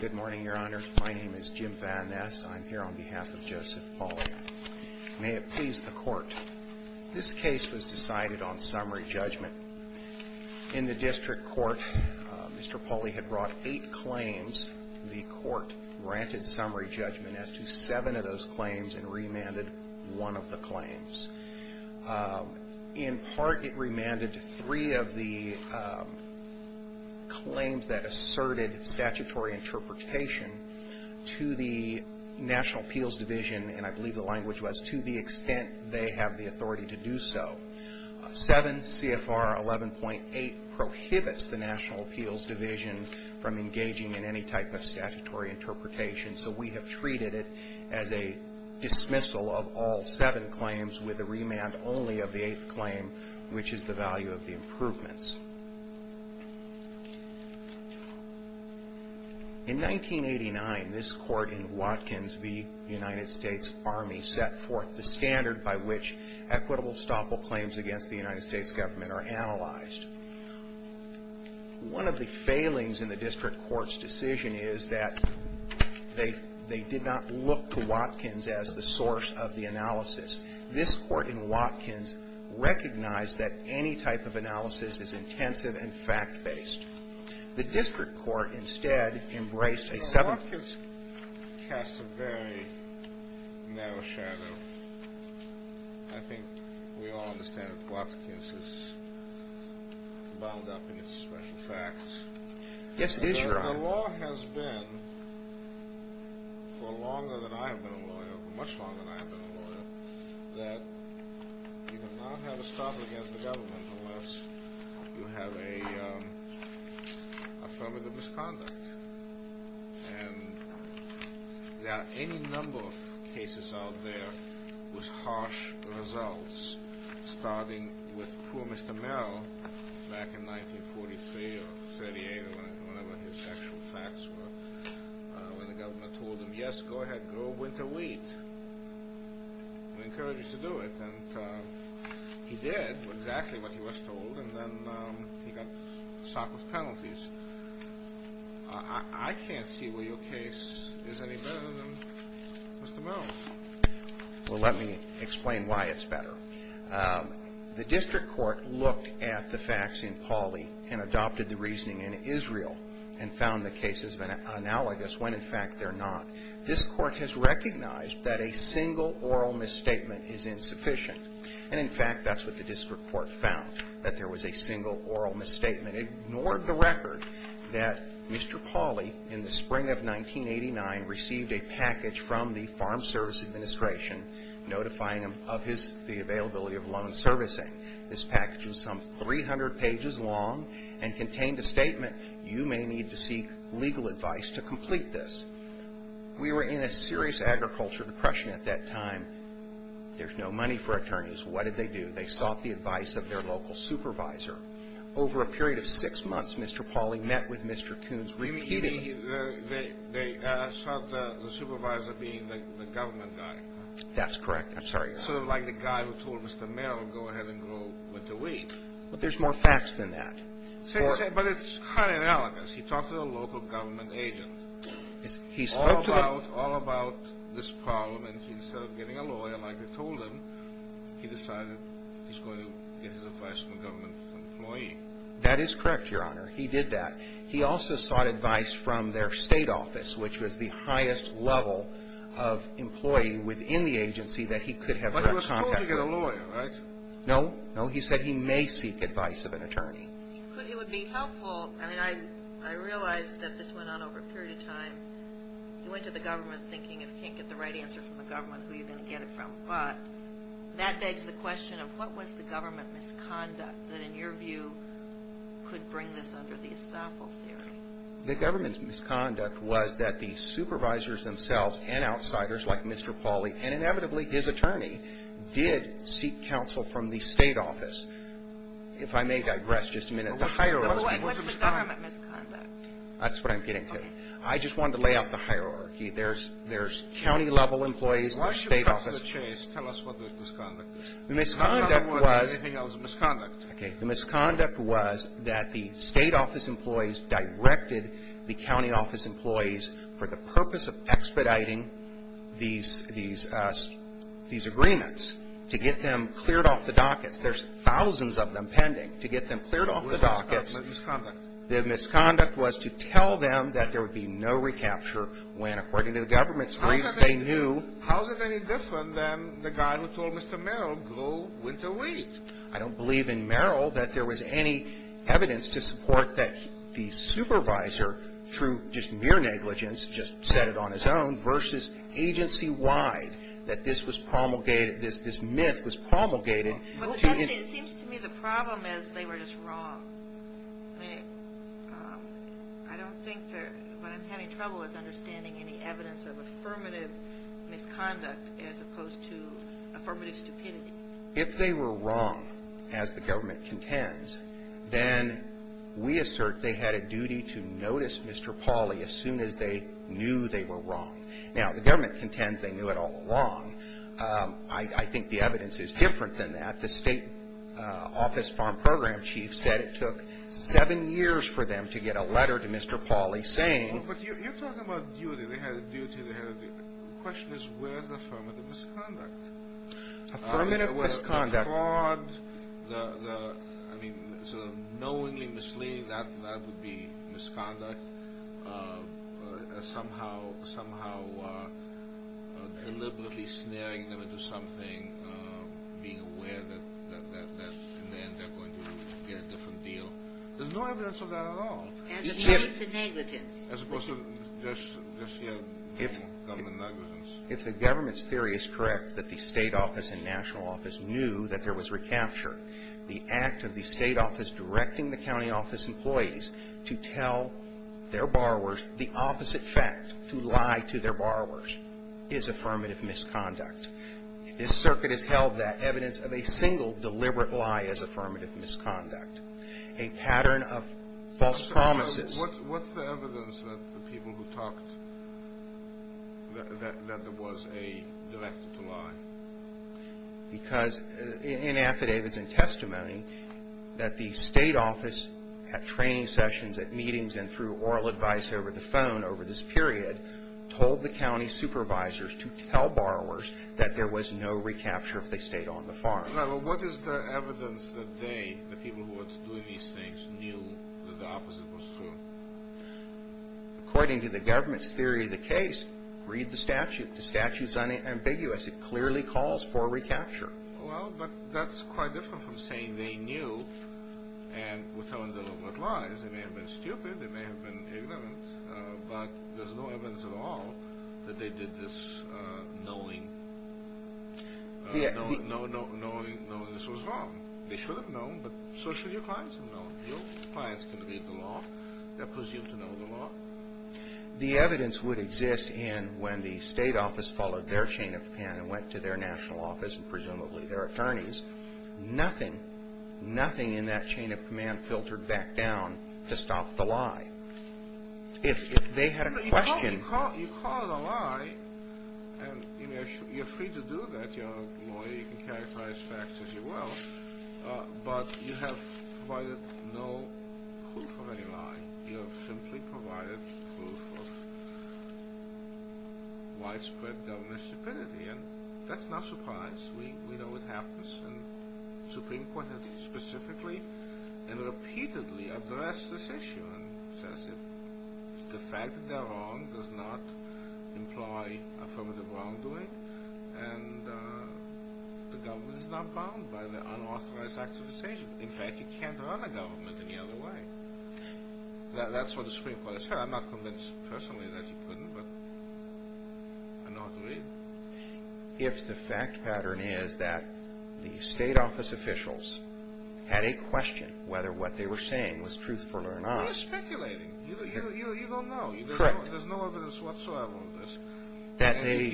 Good morning, Your Honor. My name is Jim Van Ness. I'm here on behalf of Joseph Pauly. May it please the Court. This case was decided on summary judgment. In the District Court, Mr. Pauly had brought eight claims. The Court granted summary judgment as to seven of those claims and remanded one of the claims. In part, it remanded three of the claims that asserted statutory interpretation to the National Appeals Division, and I believe the language was, to the extent they have the authority to do so. 7 CFR 11.8 prohibits the National Appeals Division from engaging in any type of statutory interpretation, so we have treated it as a dismissal of all seven claims with a remand only of the eighth claim, which is the value of the improvements. In 1989, this Court in Watkins v. United States Army set forth the standard by which equitable estoppel claims against the United States government are analyzed. One of the failings in the District Court's decision is that they did not look to Watkins as the source of the analysis. This Court in Watkins recognized that any type of analysis is intensive and fact-based. The District Court instead embraced a seven- bound up in its special facts. The law has been for longer than I have been a lawyer, for much longer than I have been a lawyer, that you cannot have estoppel against the government unless you have a affirmative misconduct. And there are any number of cases out there with harsh results, starting with poor Mr. Merrill back in 1943 or 38 or whenever his actual facts were, when the government told him, yes, go ahead, grow winter wheat, we encourage you to do it. And he did exactly what he was told, and then he got socked with penalties. I can't see where your case is any better than Mr. Merrill's. Well, let me explain why it's better. The District Court looked at the facts in Pauley and adopted the reasoning in Israel and found the cases analogous when, in fact, they're not. This Court has recognized that a single oral misstatement is insufficient. And, in fact, that's what the District Court found, that there was a single oral misstatement. It ignored the record that Mr. Pauley, in the spring of 1989, received a package from the Farm Service Administration notifying him of the availability of loan servicing. This package is some 300 pages long and contained a statement, you may need to seek legal advice to complete this. We were in a serious agriculture depression at that time. There's no money for attorneys. What did they do? They sought the advice of their local supervisor. Over a period of six months, Mr. Pauley met with Mr. Coons repeatedly. They sought the supervisor being the government guy. That's correct. I'm sorry. Sort of like the guy who told Mr. Merrill, go ahead and grow winter wheat. But there's more facts than that. But it's kind of analogous. He talked to the local government agent all about this problem, and instead of getting a lawyer like they told him, he decided he's going to get his advice from a government employee. That is correct, Your Honor. He did that. He also sought advice from their state office, which was the highest level of employee within the agency that he could have direct contact with. But he was supposed to get a lawyer, right? No. No, he said he may seek advice of an attorney. But it would be helpful. I mean, I realized that this went on over a period of time. He went to the government thinking, if you can't get the right answer from the government, who are you going to get it from? But that begs the question of what was the government misconduct that, in your view, could bring this under the estoppel theory? The government's misconduct was that the supervisors themselves and outsiders like Mr. Pauley, and inevitably his attorney, did seek counsel from the state office. If I may digress just a minute. What's the government misconduct? That's what I'm getting to. I just wanted to lay out the hierarchy. There's county-level employees, the state office. Why should Cut to the Chase tell us what the misconduct is? The misconduct was the state office employees directed the county office employees for the purpose of expediting these agreements to get them cleared off the dockets. There's thousands of them pending. To get them cleared off the dockets. What was the misconduct? The misconduct was to tell them that there would be no recapture when, according to the government's briefs, they knew. How is it any different than the guy who told Mr. Merrill grow winter wheat? I don't believe in Merrill that there was any evidence to support that the supervisor, through just mere negligence, just said it on his own, versus agency-wide that this was promulgated, this myth was promulgated. It seems to me the problem is they were just wrong. I mean, I don't think that what I'm having trouble with is understanding any evidence of affirmative misconduct as opposed to affirmative stupidity. If they were wrong, as the government contends, then we assert they had a duty to notice Mr. Pauly as soon as they knew they were wrong. Now, the government contends they knew it all along. I think the evidence is different than that. The state office farm program chief said it took seven years for them to get a letter to Mr. Pauly saying- But you're talking about duty. They had a duty. The question is where's the affirmative misconduct? Affirmative misconduct- Deliberately snaring them into something, being aware that in the end they're going to get a different deal. There's no evidence of that at all. As opposed to mere government negligence. If the government's theory is correct that the state office and national office knew that there was recapture, the act of the state office directing the county office employees to tell their borrowers the opposite fact, to lie to their borrowers, is affirmative misconduct. This circuit has held that evidence of a single deliberate lie is affirmative misconduct. A pattern of false promises- What's the evidence that the people who talked, that there was a directed lie? Because in affidavits and testimony, that the state office at training sessions, at meetings, and through oral advice over the phone over this period, told the county supervisors to tell borrowers that there was no recapture if they stayed on the farm. What is the evidence that they, the people who were doing these things, knew that the opposite was true? According to the government's theory of the case, read the statute. The statute's unambiguous. It clearly calls for recapture. Well, but that's quite different from saying they knew and were telling the government lies. They may have been stupid. They may have been ignorant. But there's no evidence at all that they did this knowing this was wrong. They should have known, but so should your clients have known. Your clients can read the law. They're presumed to know the law. The evidence would exist in when the state office followed their chain of hand and went to their national office and presumably their attorneys. Nothing, nothing in that chain of command filtered back down to stop the lie. If they had a question. You call it a lie, and you're free to do that. You're a lawyer. You can characterize facts as you will. But you have provided no proof of any lie. You have simply provided proof of widespread government stupidity. And that's not a surprise. We know what happens. And the Supreme Court has specifically and repeatedly addressed this issue and says that the fact that they're wrong does not imply affirmative wrongdoing, and the government is not bound by the unauthorized act of the state. In fact, you can't run a government any other way. That's what the Supreme Court has said. I'm not convinced personally that you couldn't, but I know how to read. If the fact pattern is that the state office officials had a question whether what they were saying was truthful or not. You're speculating. You don't know. Correct. There's no evidence whatsoever of this.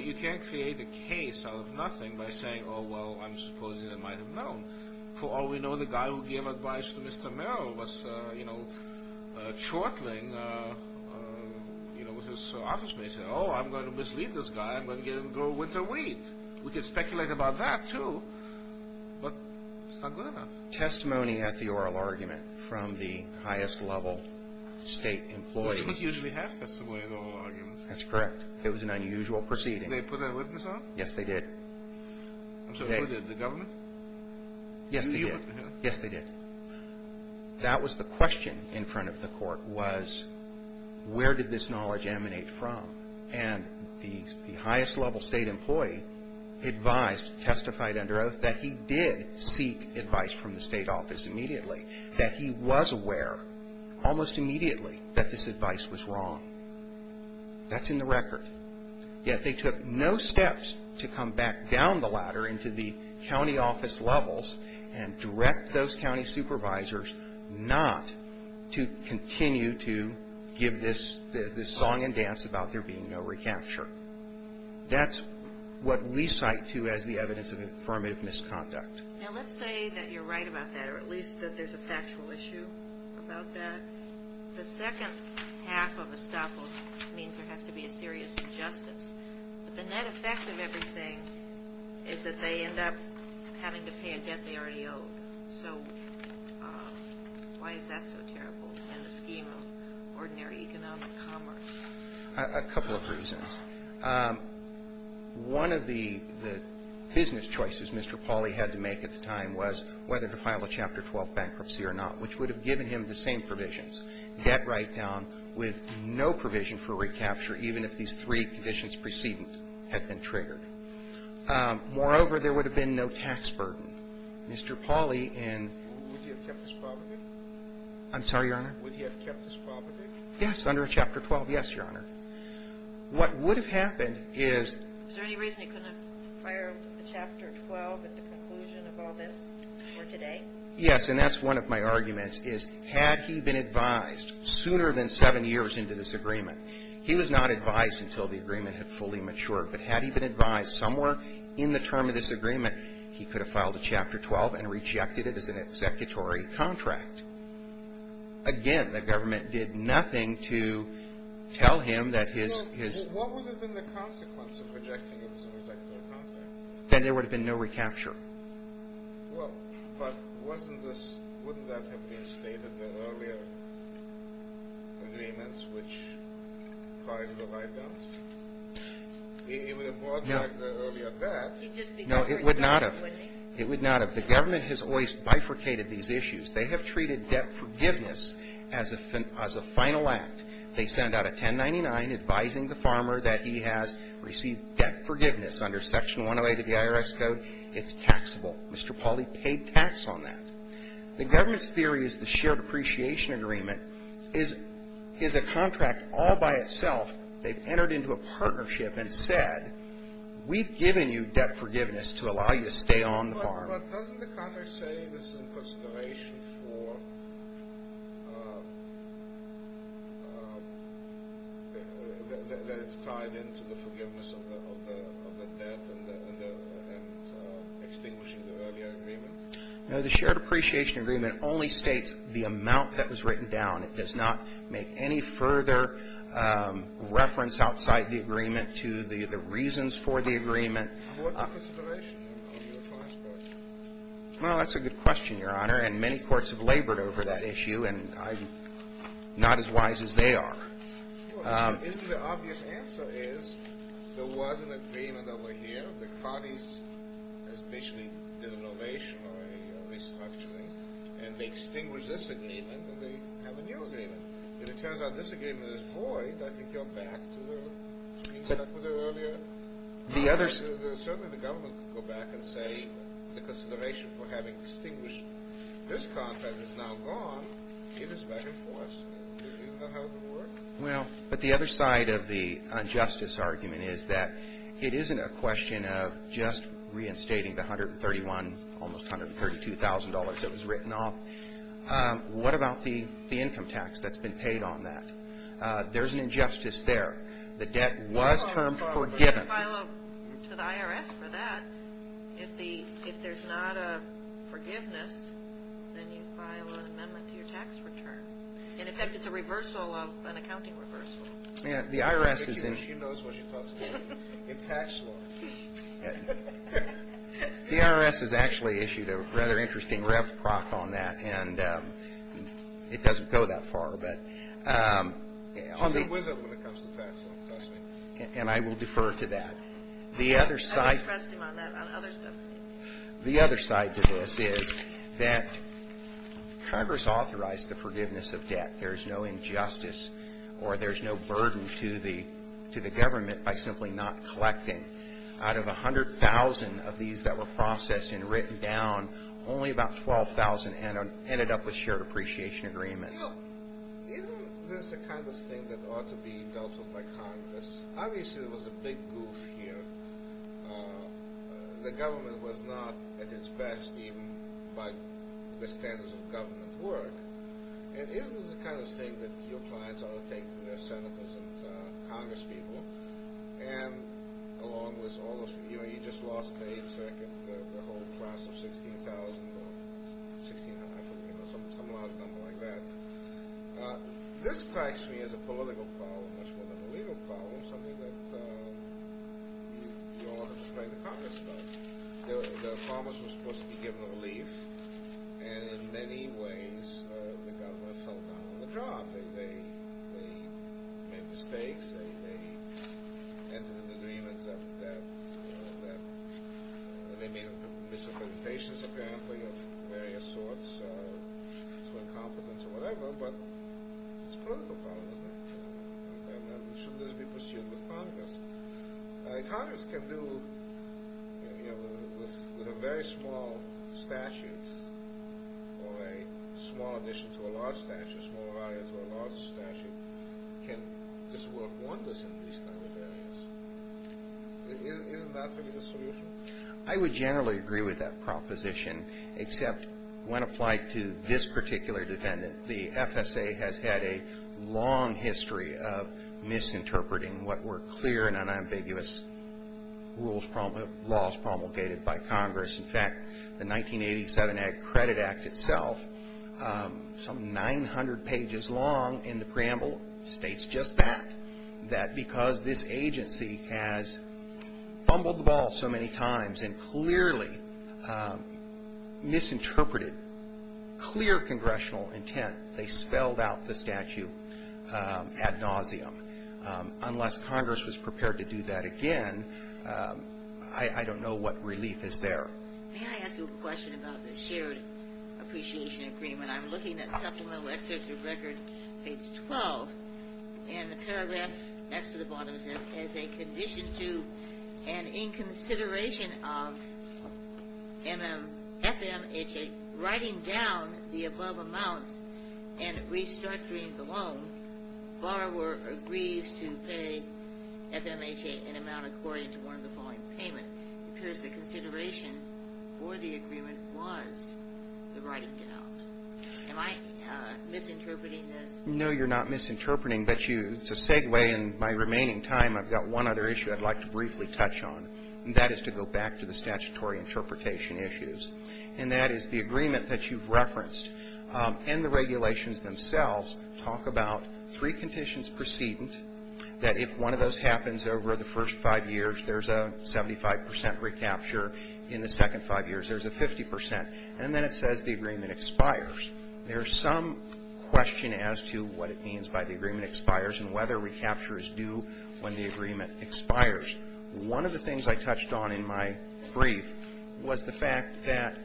You can't create a case out of nothing by saying, Oh, well, I'm supposing they might have known. For all we know, the guy who gave advice to Mr. Merrill was, you know, chortling with his office mate, saying, Oh, I'm going to mislead this guy. I'm going to get him to grow winter wheat. We can speculate about that, too. But it's not good enough. Testimony at the oral argument from the highest level state employee. They don't usually have testimony at oral arguments. That's correct. It was an unusual proceeding. Did they put a witness on? Yes, they did. And so did the government? Yes, they did. Yes, they did. That was the question in front of the court, was where did this knowledge emanate from? And the highest level state employee advised, testified under oath, that he did seek advice from the state office immediately, that he was aware almost immediately that this advice was wrong. That's in the record. And so, in the end, they took no steps to come back down the ladder into the county office levels and direct those county supervisors not to continue to give this song and dance about there being no recapture. That's what we cite, too, as the evidence of affirmative misconduct. Now, let's say that you're right about that, or at least that there's a factual issue about that. The second half of estoppel means there has to be a serious injustice. But the net effect of everything is that they end up having to pay a debt they already owe. So why is that so terrible in the scheme of ordinary economic commerce? A couple of reasons. One of the business choices Mr. Pauly had to make at the time was whether to file a Chapter 12 bankruptcy or not, which would have given him the same provisions, debt write-down with no provision for recapture, even if these three conditions preceding it had been triggered. Moreover, there would have been no tax burden. Mr. Pauly and — Would he have kept his property? I'm sorry, Your Honor? Would he have kept his property? Yes, under Chapter 12. Yes, Your Honor. What would have happened is — Is there any reason he couldn't have filed a Chapter 12 at the conclusion of all this for today? Yes, and that's one of my arguments, is had he been advised sooner than seven years into this agreement — he was not advised until the agreement had fully matured, but had he been advised somewhere in the term of this agreement, he could have filed a Chapter 12 and rejected it as an executory contract. Again, the government did nothing to tell him that his — What would have been the consequence of rejecting it as an executory contract? Then there would have been no recapture. Well, but wasn't this — Wouldn't that have been stated in the earlier agreements which filed the write-downs? It would have worked like the earlier bet. No, it would not have. It would not have. The government has always bifurcated these issues. They have treated debt forgiveness as a final act. They send out a 1099 advising the farmer that he has received debt forgiveness under Section 108 of the IRS Code. It's taxable. Mr. Pawley paid tax on that. The government's theory is the shared appreciation agreement is a contract all by itself. They've entered into a partnership and said, we've given you debt forgiveness to allow you to stay on the farm. But doesn't the contract say this is in consideration for — that it's tied into the forgiveness of the debt and extinguishing the earlier agreement? No, the shared appreciation agreement only states the amount that was written down. It does not make any further reference outside the agreement to the reasons for the agreement. What's the consideration of your client's part? Well, that's a good question, Your Honor. And many courts have labored over that issue, and I'm not as wise as they are. Well, isn't the obvious answer is there was an agreement over here. The parties essentially did an ovation or a restructuring, and they extinguished this agreement, and they have a new agreement. If it turns out this agreement is void, I think you're back to the — Certainly the government could go back and say the consideration for having extinguished this contract is now gone. It is back in force. Isn't that how it would work? Well, but the other side of the injustice argument is that it isn't a question of just reinstating the $131,000, almost $132,000 that was written off. What about the income tax that's been paid on that? There's an injustice there. The debt was termed forgiven. Well, you don't have to file a — to the IRS for that. If there's not a forgiveness, then you file an amendment to your tax return. In effect, it's a reversal of an accounting reversal. Yeah, the IRS is — She knows what she talks about in tax law. The IRS has actually issued a rather interesting rev proc on that, and it doesn't go that far, but — She's a wizard when it comes to tax law, trust me. And I will defer to that. The other side — I would trust him on that, on other stuff. The other side to this is that Congress authorized the forgiveness of debt. There's no injustice or there's no burden to the government by simply not collecting. Out of 100,000 of these that were processed and written down, only about 12,000 ended up with shared appreciation agreements. Isn't this the kind of thing that ought to be dealt with by Congress? Obviously, there was a big goof here. The government was not at its best, even by the standards of government work. And isn't this the kind of thing that your clients ought to take to their senators and Congress people? And along with all those — You know, you just lost the whole class of 16,000 or some large number like that. This strikes me as a political problem, much more than a legal problem, something that you don't want to explain to Congress about. The farmers were supposed to be given relief, and in many ways the government fell down on the job. They made mistakes, they entered into agreements of debt, and they made misrepresentations, apparently, of various sorts, to incompetence or whatever, but it's a political problem, isn't it? And shouldn't this be pursued with Congress? Congress can do with a very small statute or a small addition to a large statute, or a small variance to a large statute, can just work wonders in these kind of areas. Isn't that going to be the solution? I would generally agree with that proposition, except when applied to this particular defendant, the FSA has had a long history of misinterpreting what were clear and unambiguous rules — laws promulgated by Congress. In fact, the 1987 Credit Act itself, some 900 pages long in the preamble, states just that, that because this agency has fumbled the ball so many times and clearly misinterpreted clear congressional intent, they spelled out the statute ad nauseum. Unless Congress was prepared to do that again, I don't know what relief is there. May I ask you a question about the shared appreciation agreement? I'm looking at Supplemental Excerpt of Record Page 12, and the paragraph next to the bottom says, as a condition to and in consideration of FMHA writing down the above amounts and restructuring the loan, borrower agrees to pay FMHA an amount according to one of the following payment. It appears the consideration for the agreement was the writing down. Am I misinterpreting this? No, you're not misinterpreting, but to segue in my remaining time, I've got one other issue I'd like to briefly touch on, and that is to go back to the statutory interpretation issues. And that is the agreement that you've referenced, and the regulations themselves, talk about three conditions precedent, that if one of those happens over the first five years, there's a 75 percent recapture. In the second five years, there's a 50 percent. And then it says the agreement expires. There's some question as to what it means by the agreement expires and whether recapture is due when the agreement expires. One of the things I touched on in my brief was the fact that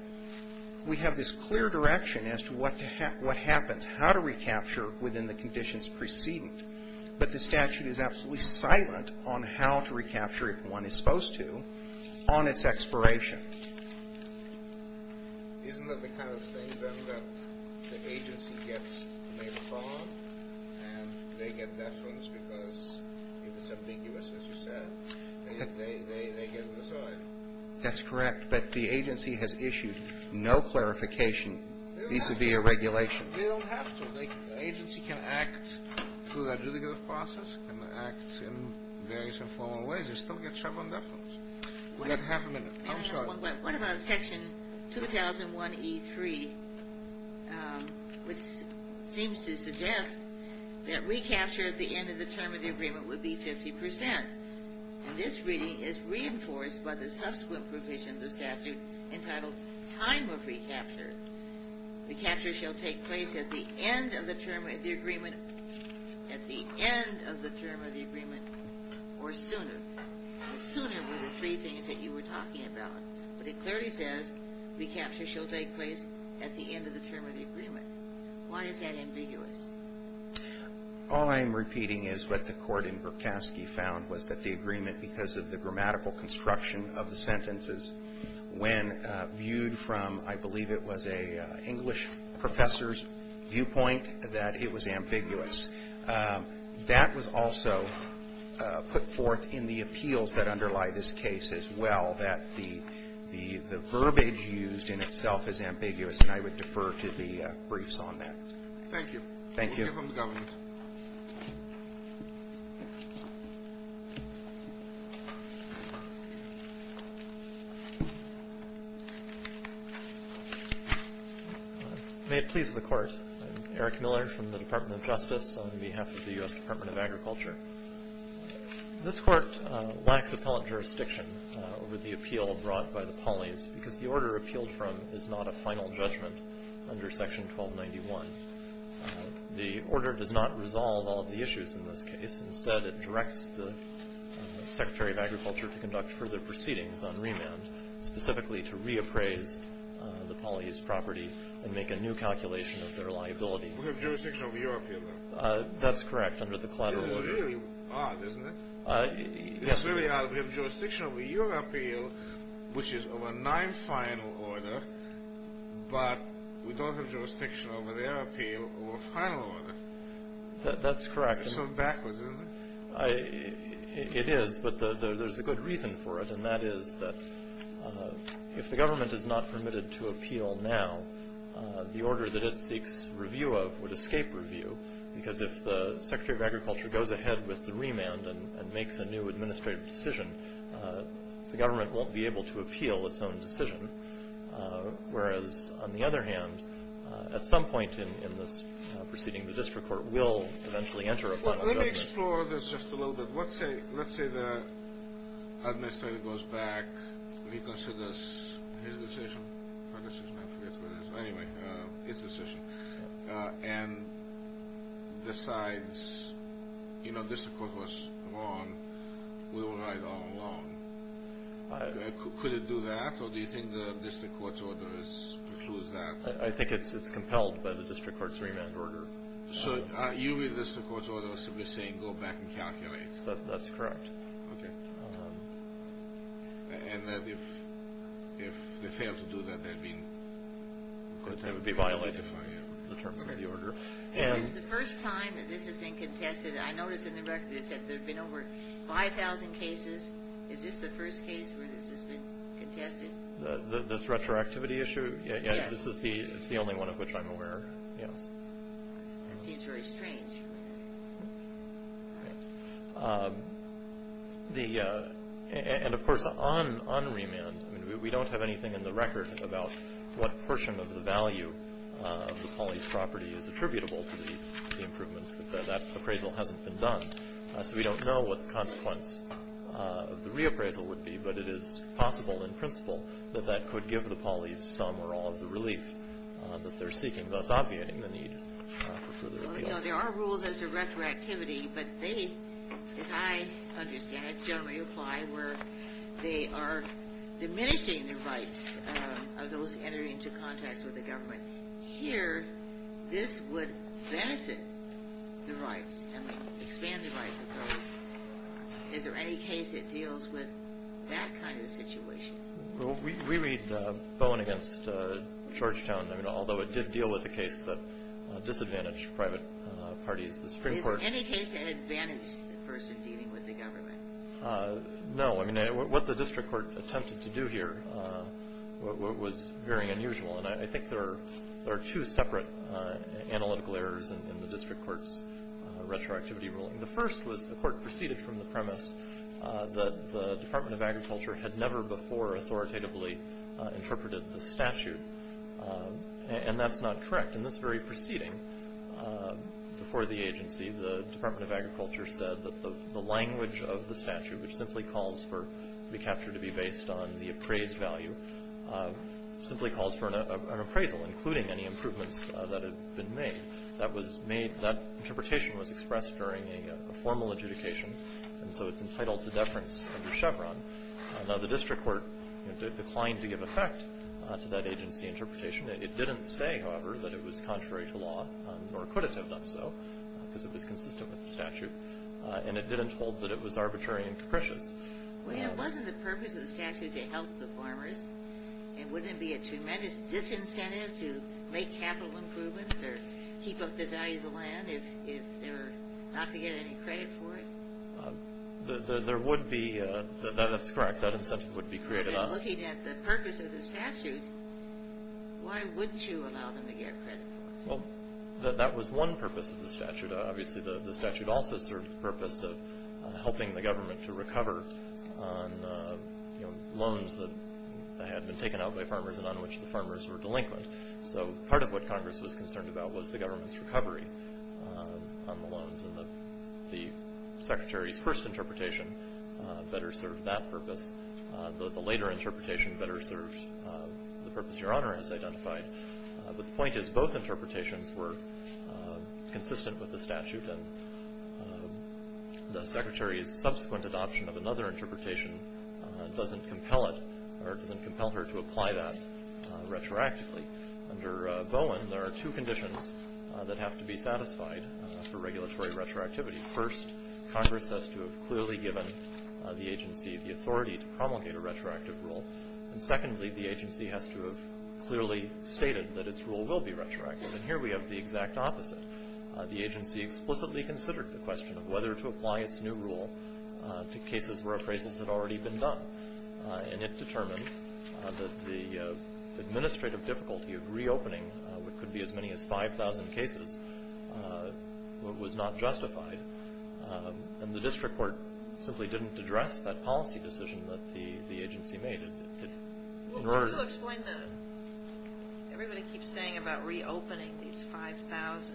we have this clear direction as to what happens, how to recapture within the conditions precedent, but the statute is absolutely silent on how to recapture if one is supposed to on its expiration. Isn't that the kind of thing, then, that the agency gets to make a call, and they get deference because if it's ambiguous, as you said, they get to decide? That's correct. But the agency has issued no clarification vis-à-vis a regulation. They don't have to. The agency can act through the adjudicative process, can act in various informal ways. We've got half a minute. I'm sorry. What about Section 2001E3, which seems to suggest that recapture at the end of the term of the agreement would be 50 percent? And this reading is reinforced by the subsequent provision of the statute entitled time of recapture. Recapture shall take place at the end of the term of the agreement or sooner. Sooner were the three things that you were talking about, but it clearly says recapture shall take place at the end of the term of the agreement. Why is that ambiguous? All I'm repeating is what the court in Berkoski found was that the agreement, because of the grammatical construction of the sentences, when viewed from, I believe it was an English professor's viewpoint, that it was ambiguous. That was also put forth in the appeals that underlie this case as well, that the verbiage used in itself is ambiguous, and I would defer to the briefs on that. Thank you. Thank you. Thank you from the government. May it please the court. I'm Eric Miller from the Department of Justice on behalf of the U.S. Department of Agriculture. This court lacks appellate jurisdiction over the appeal brought by the polis because the order appealed from is not a final judgment under Section 1291. The order does not resolve all of the issues in this case. Instead, it directs the Secretary of Agriculture to conduct further proceedings on remand, specifically to reappraise the polis property and make a new calculation of their liability. We have jurisdiction over your appeal, though. That's correct, under the collateral order. It's really odd, isn't it? Yes, sir. It's really odd. We have jurisdiction over your appeal, which is of a nine-final order, but we don't have jurisdiction over their appeal or a final order. That's correct. It's sort of backwards, isn't it? It is, but there's a good reason for it, and that is that if the government is not permitted to appeal now, the order that it seeks review of would escape review because if the Secretary of Agriculture goes ahead with the remand and makes a new administrative decision, the government won't be able to appeal its own decision, whereas, on the other hand, at some point in this proceeding, the district court will eventually enter a final judgment. Let me explore this just a little bit. Let's say the administrator goes back, reconsiders his decision, or her decision, I forget what it is, but anyway, his decision, and decides, you know, the district court was wrong. We were right all along. Could it do that, or do you think the district court's order precludes that? I think it's compelled by the district court's remand order. So you read the district court's order as simply saying, go back and calculate. That's correct. Okay. And if they fail to do that, they'd be... They would be violated. Okay. Is this the first time that this has been contested? I noticed in the record it said there have been over 5,000 cases. Is this the first case where this has been contested? This retroactivity issue? Yes. It's the only one of which I'm aware, yes. That seems very strange. And, of course, on remand, we don't have anything in the record about what portion of the value of the poly's property is attributable to the improvements because that appraisal hasn't been done. So we don't know what the consequence of the reappraisal would be, but it is possible in principle that that could give the poly's some or all of the relief that they're seeking, thus obviating the need for further relief. Well, you know, there are rules as to retroactivity, but they, as I understand it, generally apply where they are diminishing the rights of those entering into contacts with the government. Here, this would benefit the rights, I mean, expand the rights of those. Is there any case that deals with that kind of situation? Well, we read Bowen against Georgetown, although it did deal with the case that disadvantaged private parties, the Supreme Court... Is there any case that advantaged the person dealing with the government? No. I mean, what the district court attempted to do here was very unusual, and I think there are two separate analytical errors in the district court's retroactivity ruling. The first was the court proceeded from the premise that the Department of Agriculture had never before authoritatively interpreted the statute, and that's not correct. In this very proceeding, before the agency, the Department of Agriculture said that the language of the statute, which simply calls for recapture to be based on the appraised value, simply calls for an appraisal, including any improvements that have been made. That interpretation was expressed during a formal adjudication, and so it's entitled to deference under Chevron. Now, the district court declined to give effect to that agency interpretation. It didn't say, however, that it was contrary to law, or could it have done so, because it was consistent with the statute, and it didn't hold that it was arbitrary and capricious. Well, it wasn't the purpose of the statute to help the farmers, and wouldn't it be a tremendous disincentive to make capital improvements or keep up the value of the land if they were not to get any credit for it? There would be. That's correct. That incentive would be created. But looking at the purpose of the statute, why wouldn't you allow them to get credit for it? Well, that was one purpose of the statute. Obviously, the statute also served the purpose of helping the government to recover on loans that had been taken out by farmers and on which the farmers were delinquent. So part of what Congress was concerned about was the government's recovery on the loans, and the Secretary's first interpretation better served that purpose. The later interpretation better served the purpose Your Honor has identified. But the point is both interpretations were consistent with the statute, and the Secretary's subsequent adoption of another interpretation doesn't compel her to apply that retroactively. Under Bowen, there are two conditions that have to be satisfied for regulatory retroactivity. First, Congress has to have clearly given the agency the authority to promulgate a retroactive rule. And secondly, the agency has to have clearly stated that its rule will be retroactive. And here we have the exact opposite. The agency explicitly considered the question of whether to apply its new rule to cases where appraisals had already been done. And it determined that the administrative difficulty of reopening what could be as many as 5,000 cases was not justified. And the district court simply didn't address that policy decision that the agency made. Well, can you explain that? Everybody keeps saying about reopening these 5,000.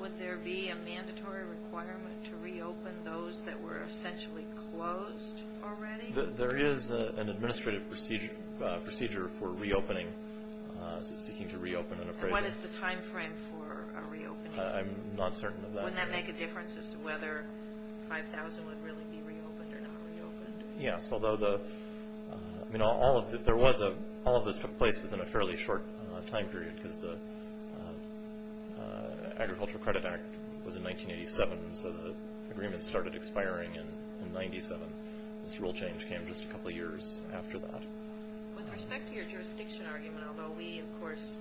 Would there be a mandatory requirement to reopen those that were essentially closed already? There is an administrative procedure for reopening, seeking to reopen an appraisal. And what is the time frame for reopening? I'm not certain of that. Would that make a difference as to whether 5,000 would really be reopened or not reopened? Yes, although all of this took place within a fairly short time period because the Agricultural Credit Act was in 1987, so the agreement started expiring in 1997. This rule change came just a couple of years after that. With respect to your jurisdiction argument, although we, of course,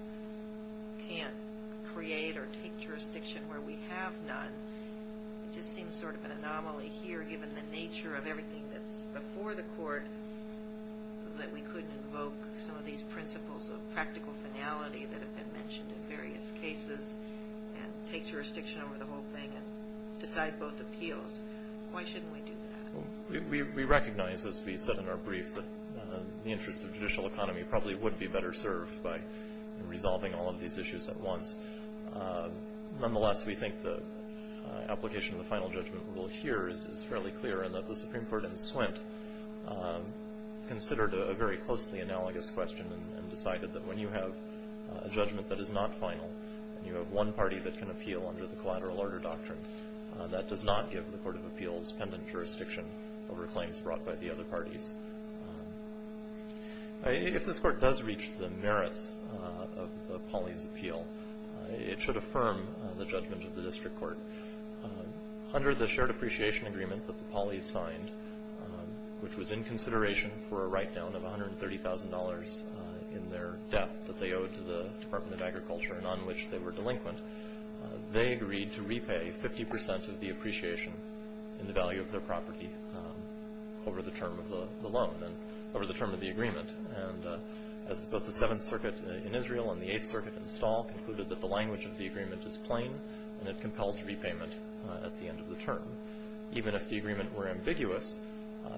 can't create or take jurisdiction where we have none, it just seems sort of an anomaly here given the nature of everything that's before the court that we couldn't invoke some of these principles of practical finality that have been mentioned in various cases and take jurisdiction over the whole thing and decide both appeals. Why shouldn't we do that? We recognize, as we said in our brief, that the interests of judicial economy probably would be better served by resolving all of these issues at once. Nonetheless, we think the application of the final judgment rule here is fairly clear and that the Supreme Court in Swint considered a very closely analogous question and decided that when you have a judgment that is not final and you have one party that can appeal under the collateral order doctrine, that does not give the Court of Appeals pendant jurisdiction over claims brought by the other parties. If this Court does reach the merits of the Polly's appeal, it should affirm the judgment of the District Court. Under the shared appreciation agreement that the Polly's signed, which was in consideration for a write-down of $130,000 in their debt that they owed to the Department of Agriculture and on which they were delinquent, they agreed to repay 50% of the appreciation in the value of their property over the term of the agreement. As both the Seventh Circuit in Israel and the Eighth Circuit in Stahl concluded that the language of the agreement is plain and it compels repayment at the end of the term. Even if the agreement were ambiguous,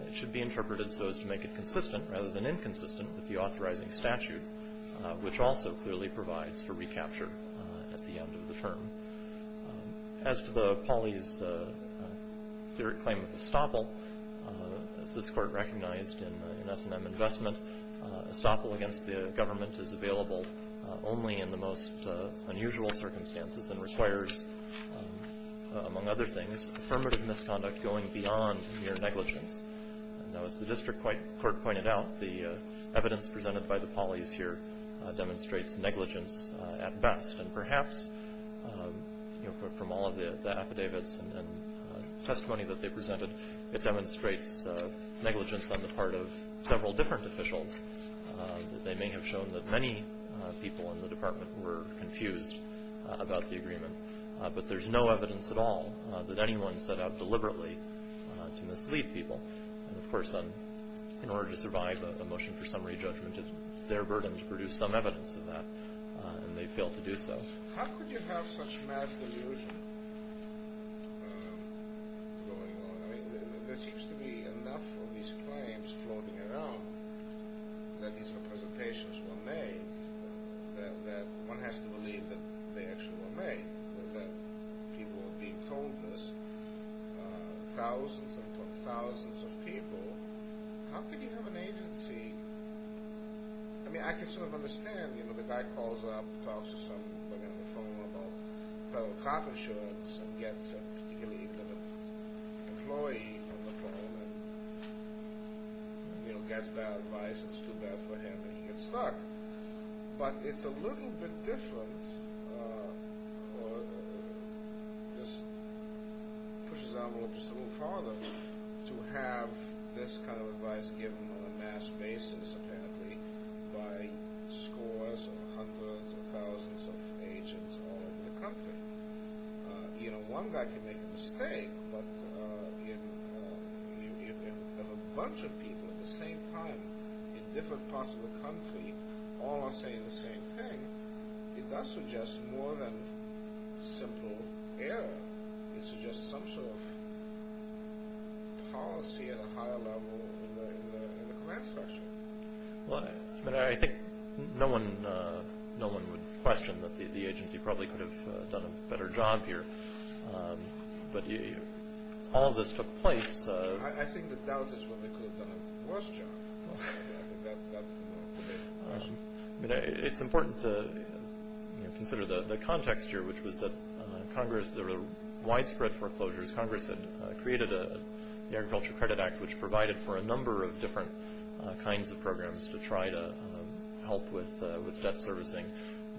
it should be interpreted so as to make it consistent rather than inconsistent with the authorizing statute, which also clearly provides for recapture at the end of the term. As to the Polly's clear claim of estoppel, as this Court recognized in S&M investment, estoppel against the government is available only in the most unusual circumstances and requires, among other things, affirmative misconduct going beyond mere negligence. Now, as the district court pointed out, the evidence presented by the Polly's here demonstrates negligence at best, and perhaps from all of the affidavits and testimony that they presented, it demonstrates negligence on the part of several different officials. They may have shown that many people in the department were confused about the agreement, but there's no evidence at all that anyone set out deliberately to mislead people. And, of course, in order to survive a motion for summary judgment, it's their burden to produce some evidence of that, and they fail to do so. How could you have such mass delusion going on? I mean, there seems to be enough of these claims floating around that these representations were made, that one has to believe that they actually were made, that people were being told this, thousands upon thousands of people. How could you have an agency? I mean, I can sort of understand, you know, the guy calls up, talks to somebody on the phone about federal cop insurance, and gets a particular employee on the phone, and, you know, gets bad advice, and it's too bad for him, and he gets stuck. But it's a little bit different, or just pushes the envelope just a little farther, to have this kind of advice given on a mass basis, apparently, by scores of hundreds of thousands of agents all over the country. You know, one guy can make a mistake, but if a bunch of people at the same time in different parts of the country all are saying the same thing, it does suggest more than simple error. It suggests some sort of policy at a higher level in the command structure. Well, I mean, I think no one would question that the agency probably could have done a better job here. But all of this took place... I think the doubt is whether they could have done a worse job. I think that's the more critical question. I mean, it's important to consider the context here, which was that there were widespread foreclosures. Congress had created the Agriculture Credit Act, which provided for a number of different kinds of programs to try to help with debt servicing.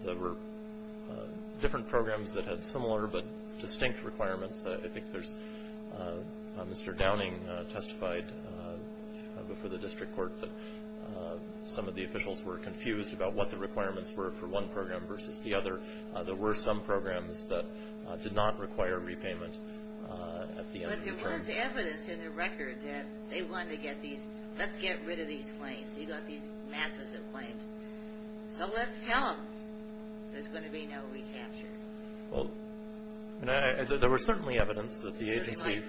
There were different programs that had similar but distinct requirements. I think Mr. Downing testified before the district court that some of the officials were confused about what the requirements were for one program versus the other. There were some programs that did not require repayment at the end of the term. But there was evidence in the record that they wanted to get these... Let's get rid of these claims. You've got these masses of claims. So let's tell them there's going to be no recapture. Well, there was certainly evidence that the agency...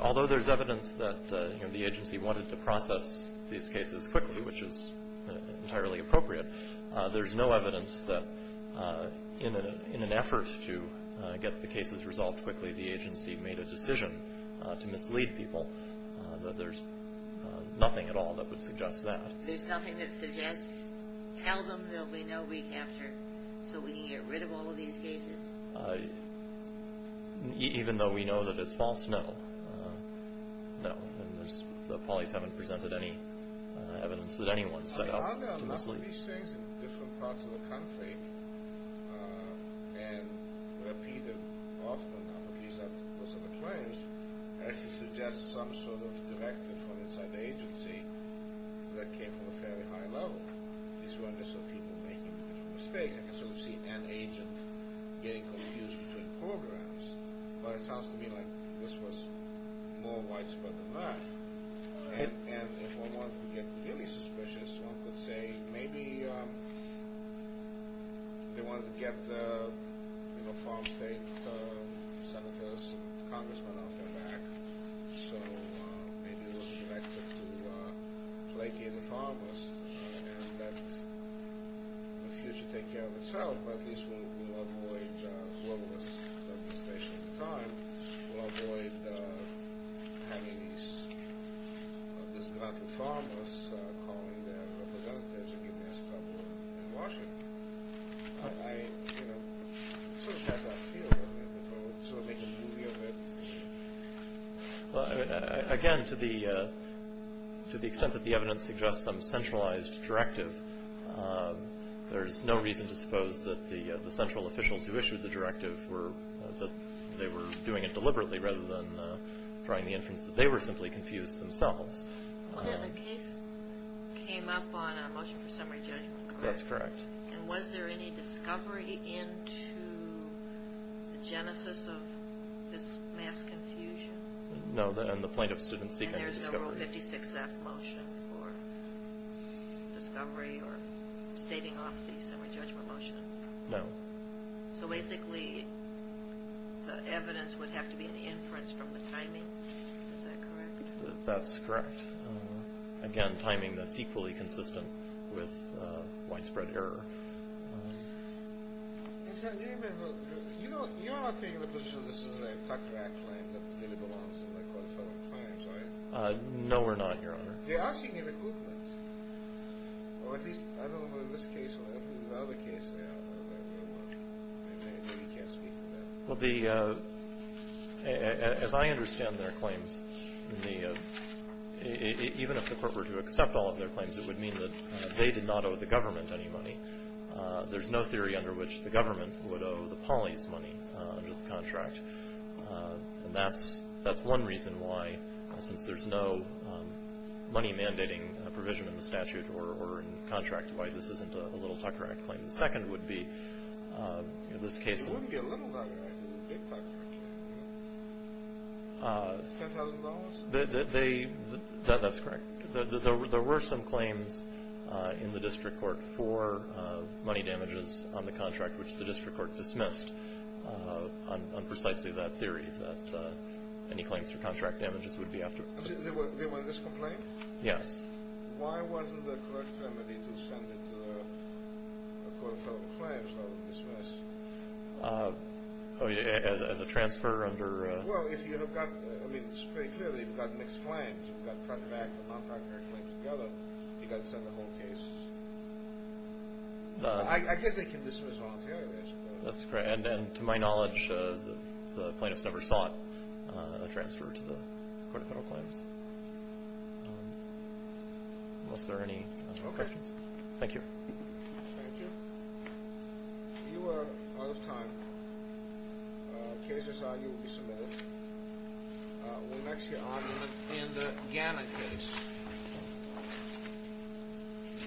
Although there's evidence that the agency wanted to process these cases quickly, which is entirely appropriate, there's no evidence that in an effort to get the cases resolved quickly, the agency made a decision to mislead people. There's nothing at all that would suggest that. There's nothing that suggests, tell them there'll be no recapture so we can get rid of all of these cases? Even though we know that it's false, no. No. The polis haven't presented any evidence that anyone set out to mislead. Are there a lot of these things in different parts of the country and repeated often, at least that's what's in the claims, as to suggest some sort of directive from inside the agency that came from a fairly high level? These are people making mistakes. I can sort of see an agent getting confused between programs, but it sounds to me like this was more widespread than that. And if one wanted to get really suspicious, one could say maybe they wanted to get the farm state senators and congressmen off their back, so maybe it was directed to placate the farmers and let the future take care of itself, but at least we'll avoid all of this devastation of the time. We'll avoid having these disgruntled farmers calling their representatives against us in Washington. I sort of have that feeling that they're making a movie of it. Again, to the extent that the evidence suggests some centralized directive, there's no reason to suppose that the central officials who issued the directive were doing it deliberately rather than trying to infer that they were simply confused themselves. The case came up on a motion for summary judgment, correct? That's correct. And was there any discovery into the genesis of this mass confusion? No, and the plaintiffs didn't seek any discovery. And there's no Rule 56F motion for discovery or stating off the summary judgment motion? No. So basically the evidence would have to be an inference from the timing, is that correct? That's correct. Again, timing that's equally consistent with widespread error. You're not taking the position that this is a tucked-back claim that really belongs in the court of federal crimes, are you? No, we're not, Your Honor. They are seeking a recoupment. Or at least I don't know whether in this case or in the other case they are. Maybe you can't speak to that. Well, as I understand their claims, even if the court were to accept all of their claims, it would mean that they did not owe the government any money. There's no theory under which the government would owe the police money under the contract. And that's one reason why, since there's no money-mandating provision in the statute or in the contract, why this isn't a little tucker act claim. The second would be in this case. It wouldn't be a little tucker act. It would be a big tucker act. $10,000? That's correct. There were some claims in the district court for money damages on the contract, which the district court dismissed on precisely that theory, that any claims for contract damages would be after. There was this complaint? Yes. Why wasn't the correct remedy to send it to the court of federal claims rather than dismiss? Oh, as a transfer under? Well, if you have got, I mean, it's very clear that you've got mixed claims. You've got tucker act and non-tucker act claims together. You've got to send the whole case. I guess they can dismiss voluntarily, I suppose. That's correct. And to my knowledge, the plaintiffs never sought a transfer to the court of federal claims. Unless there are any questions. Okay. Thank you. Thank you. You are out of time. Cases on you will be submitted. We'll next hear on you. In the Ghana case.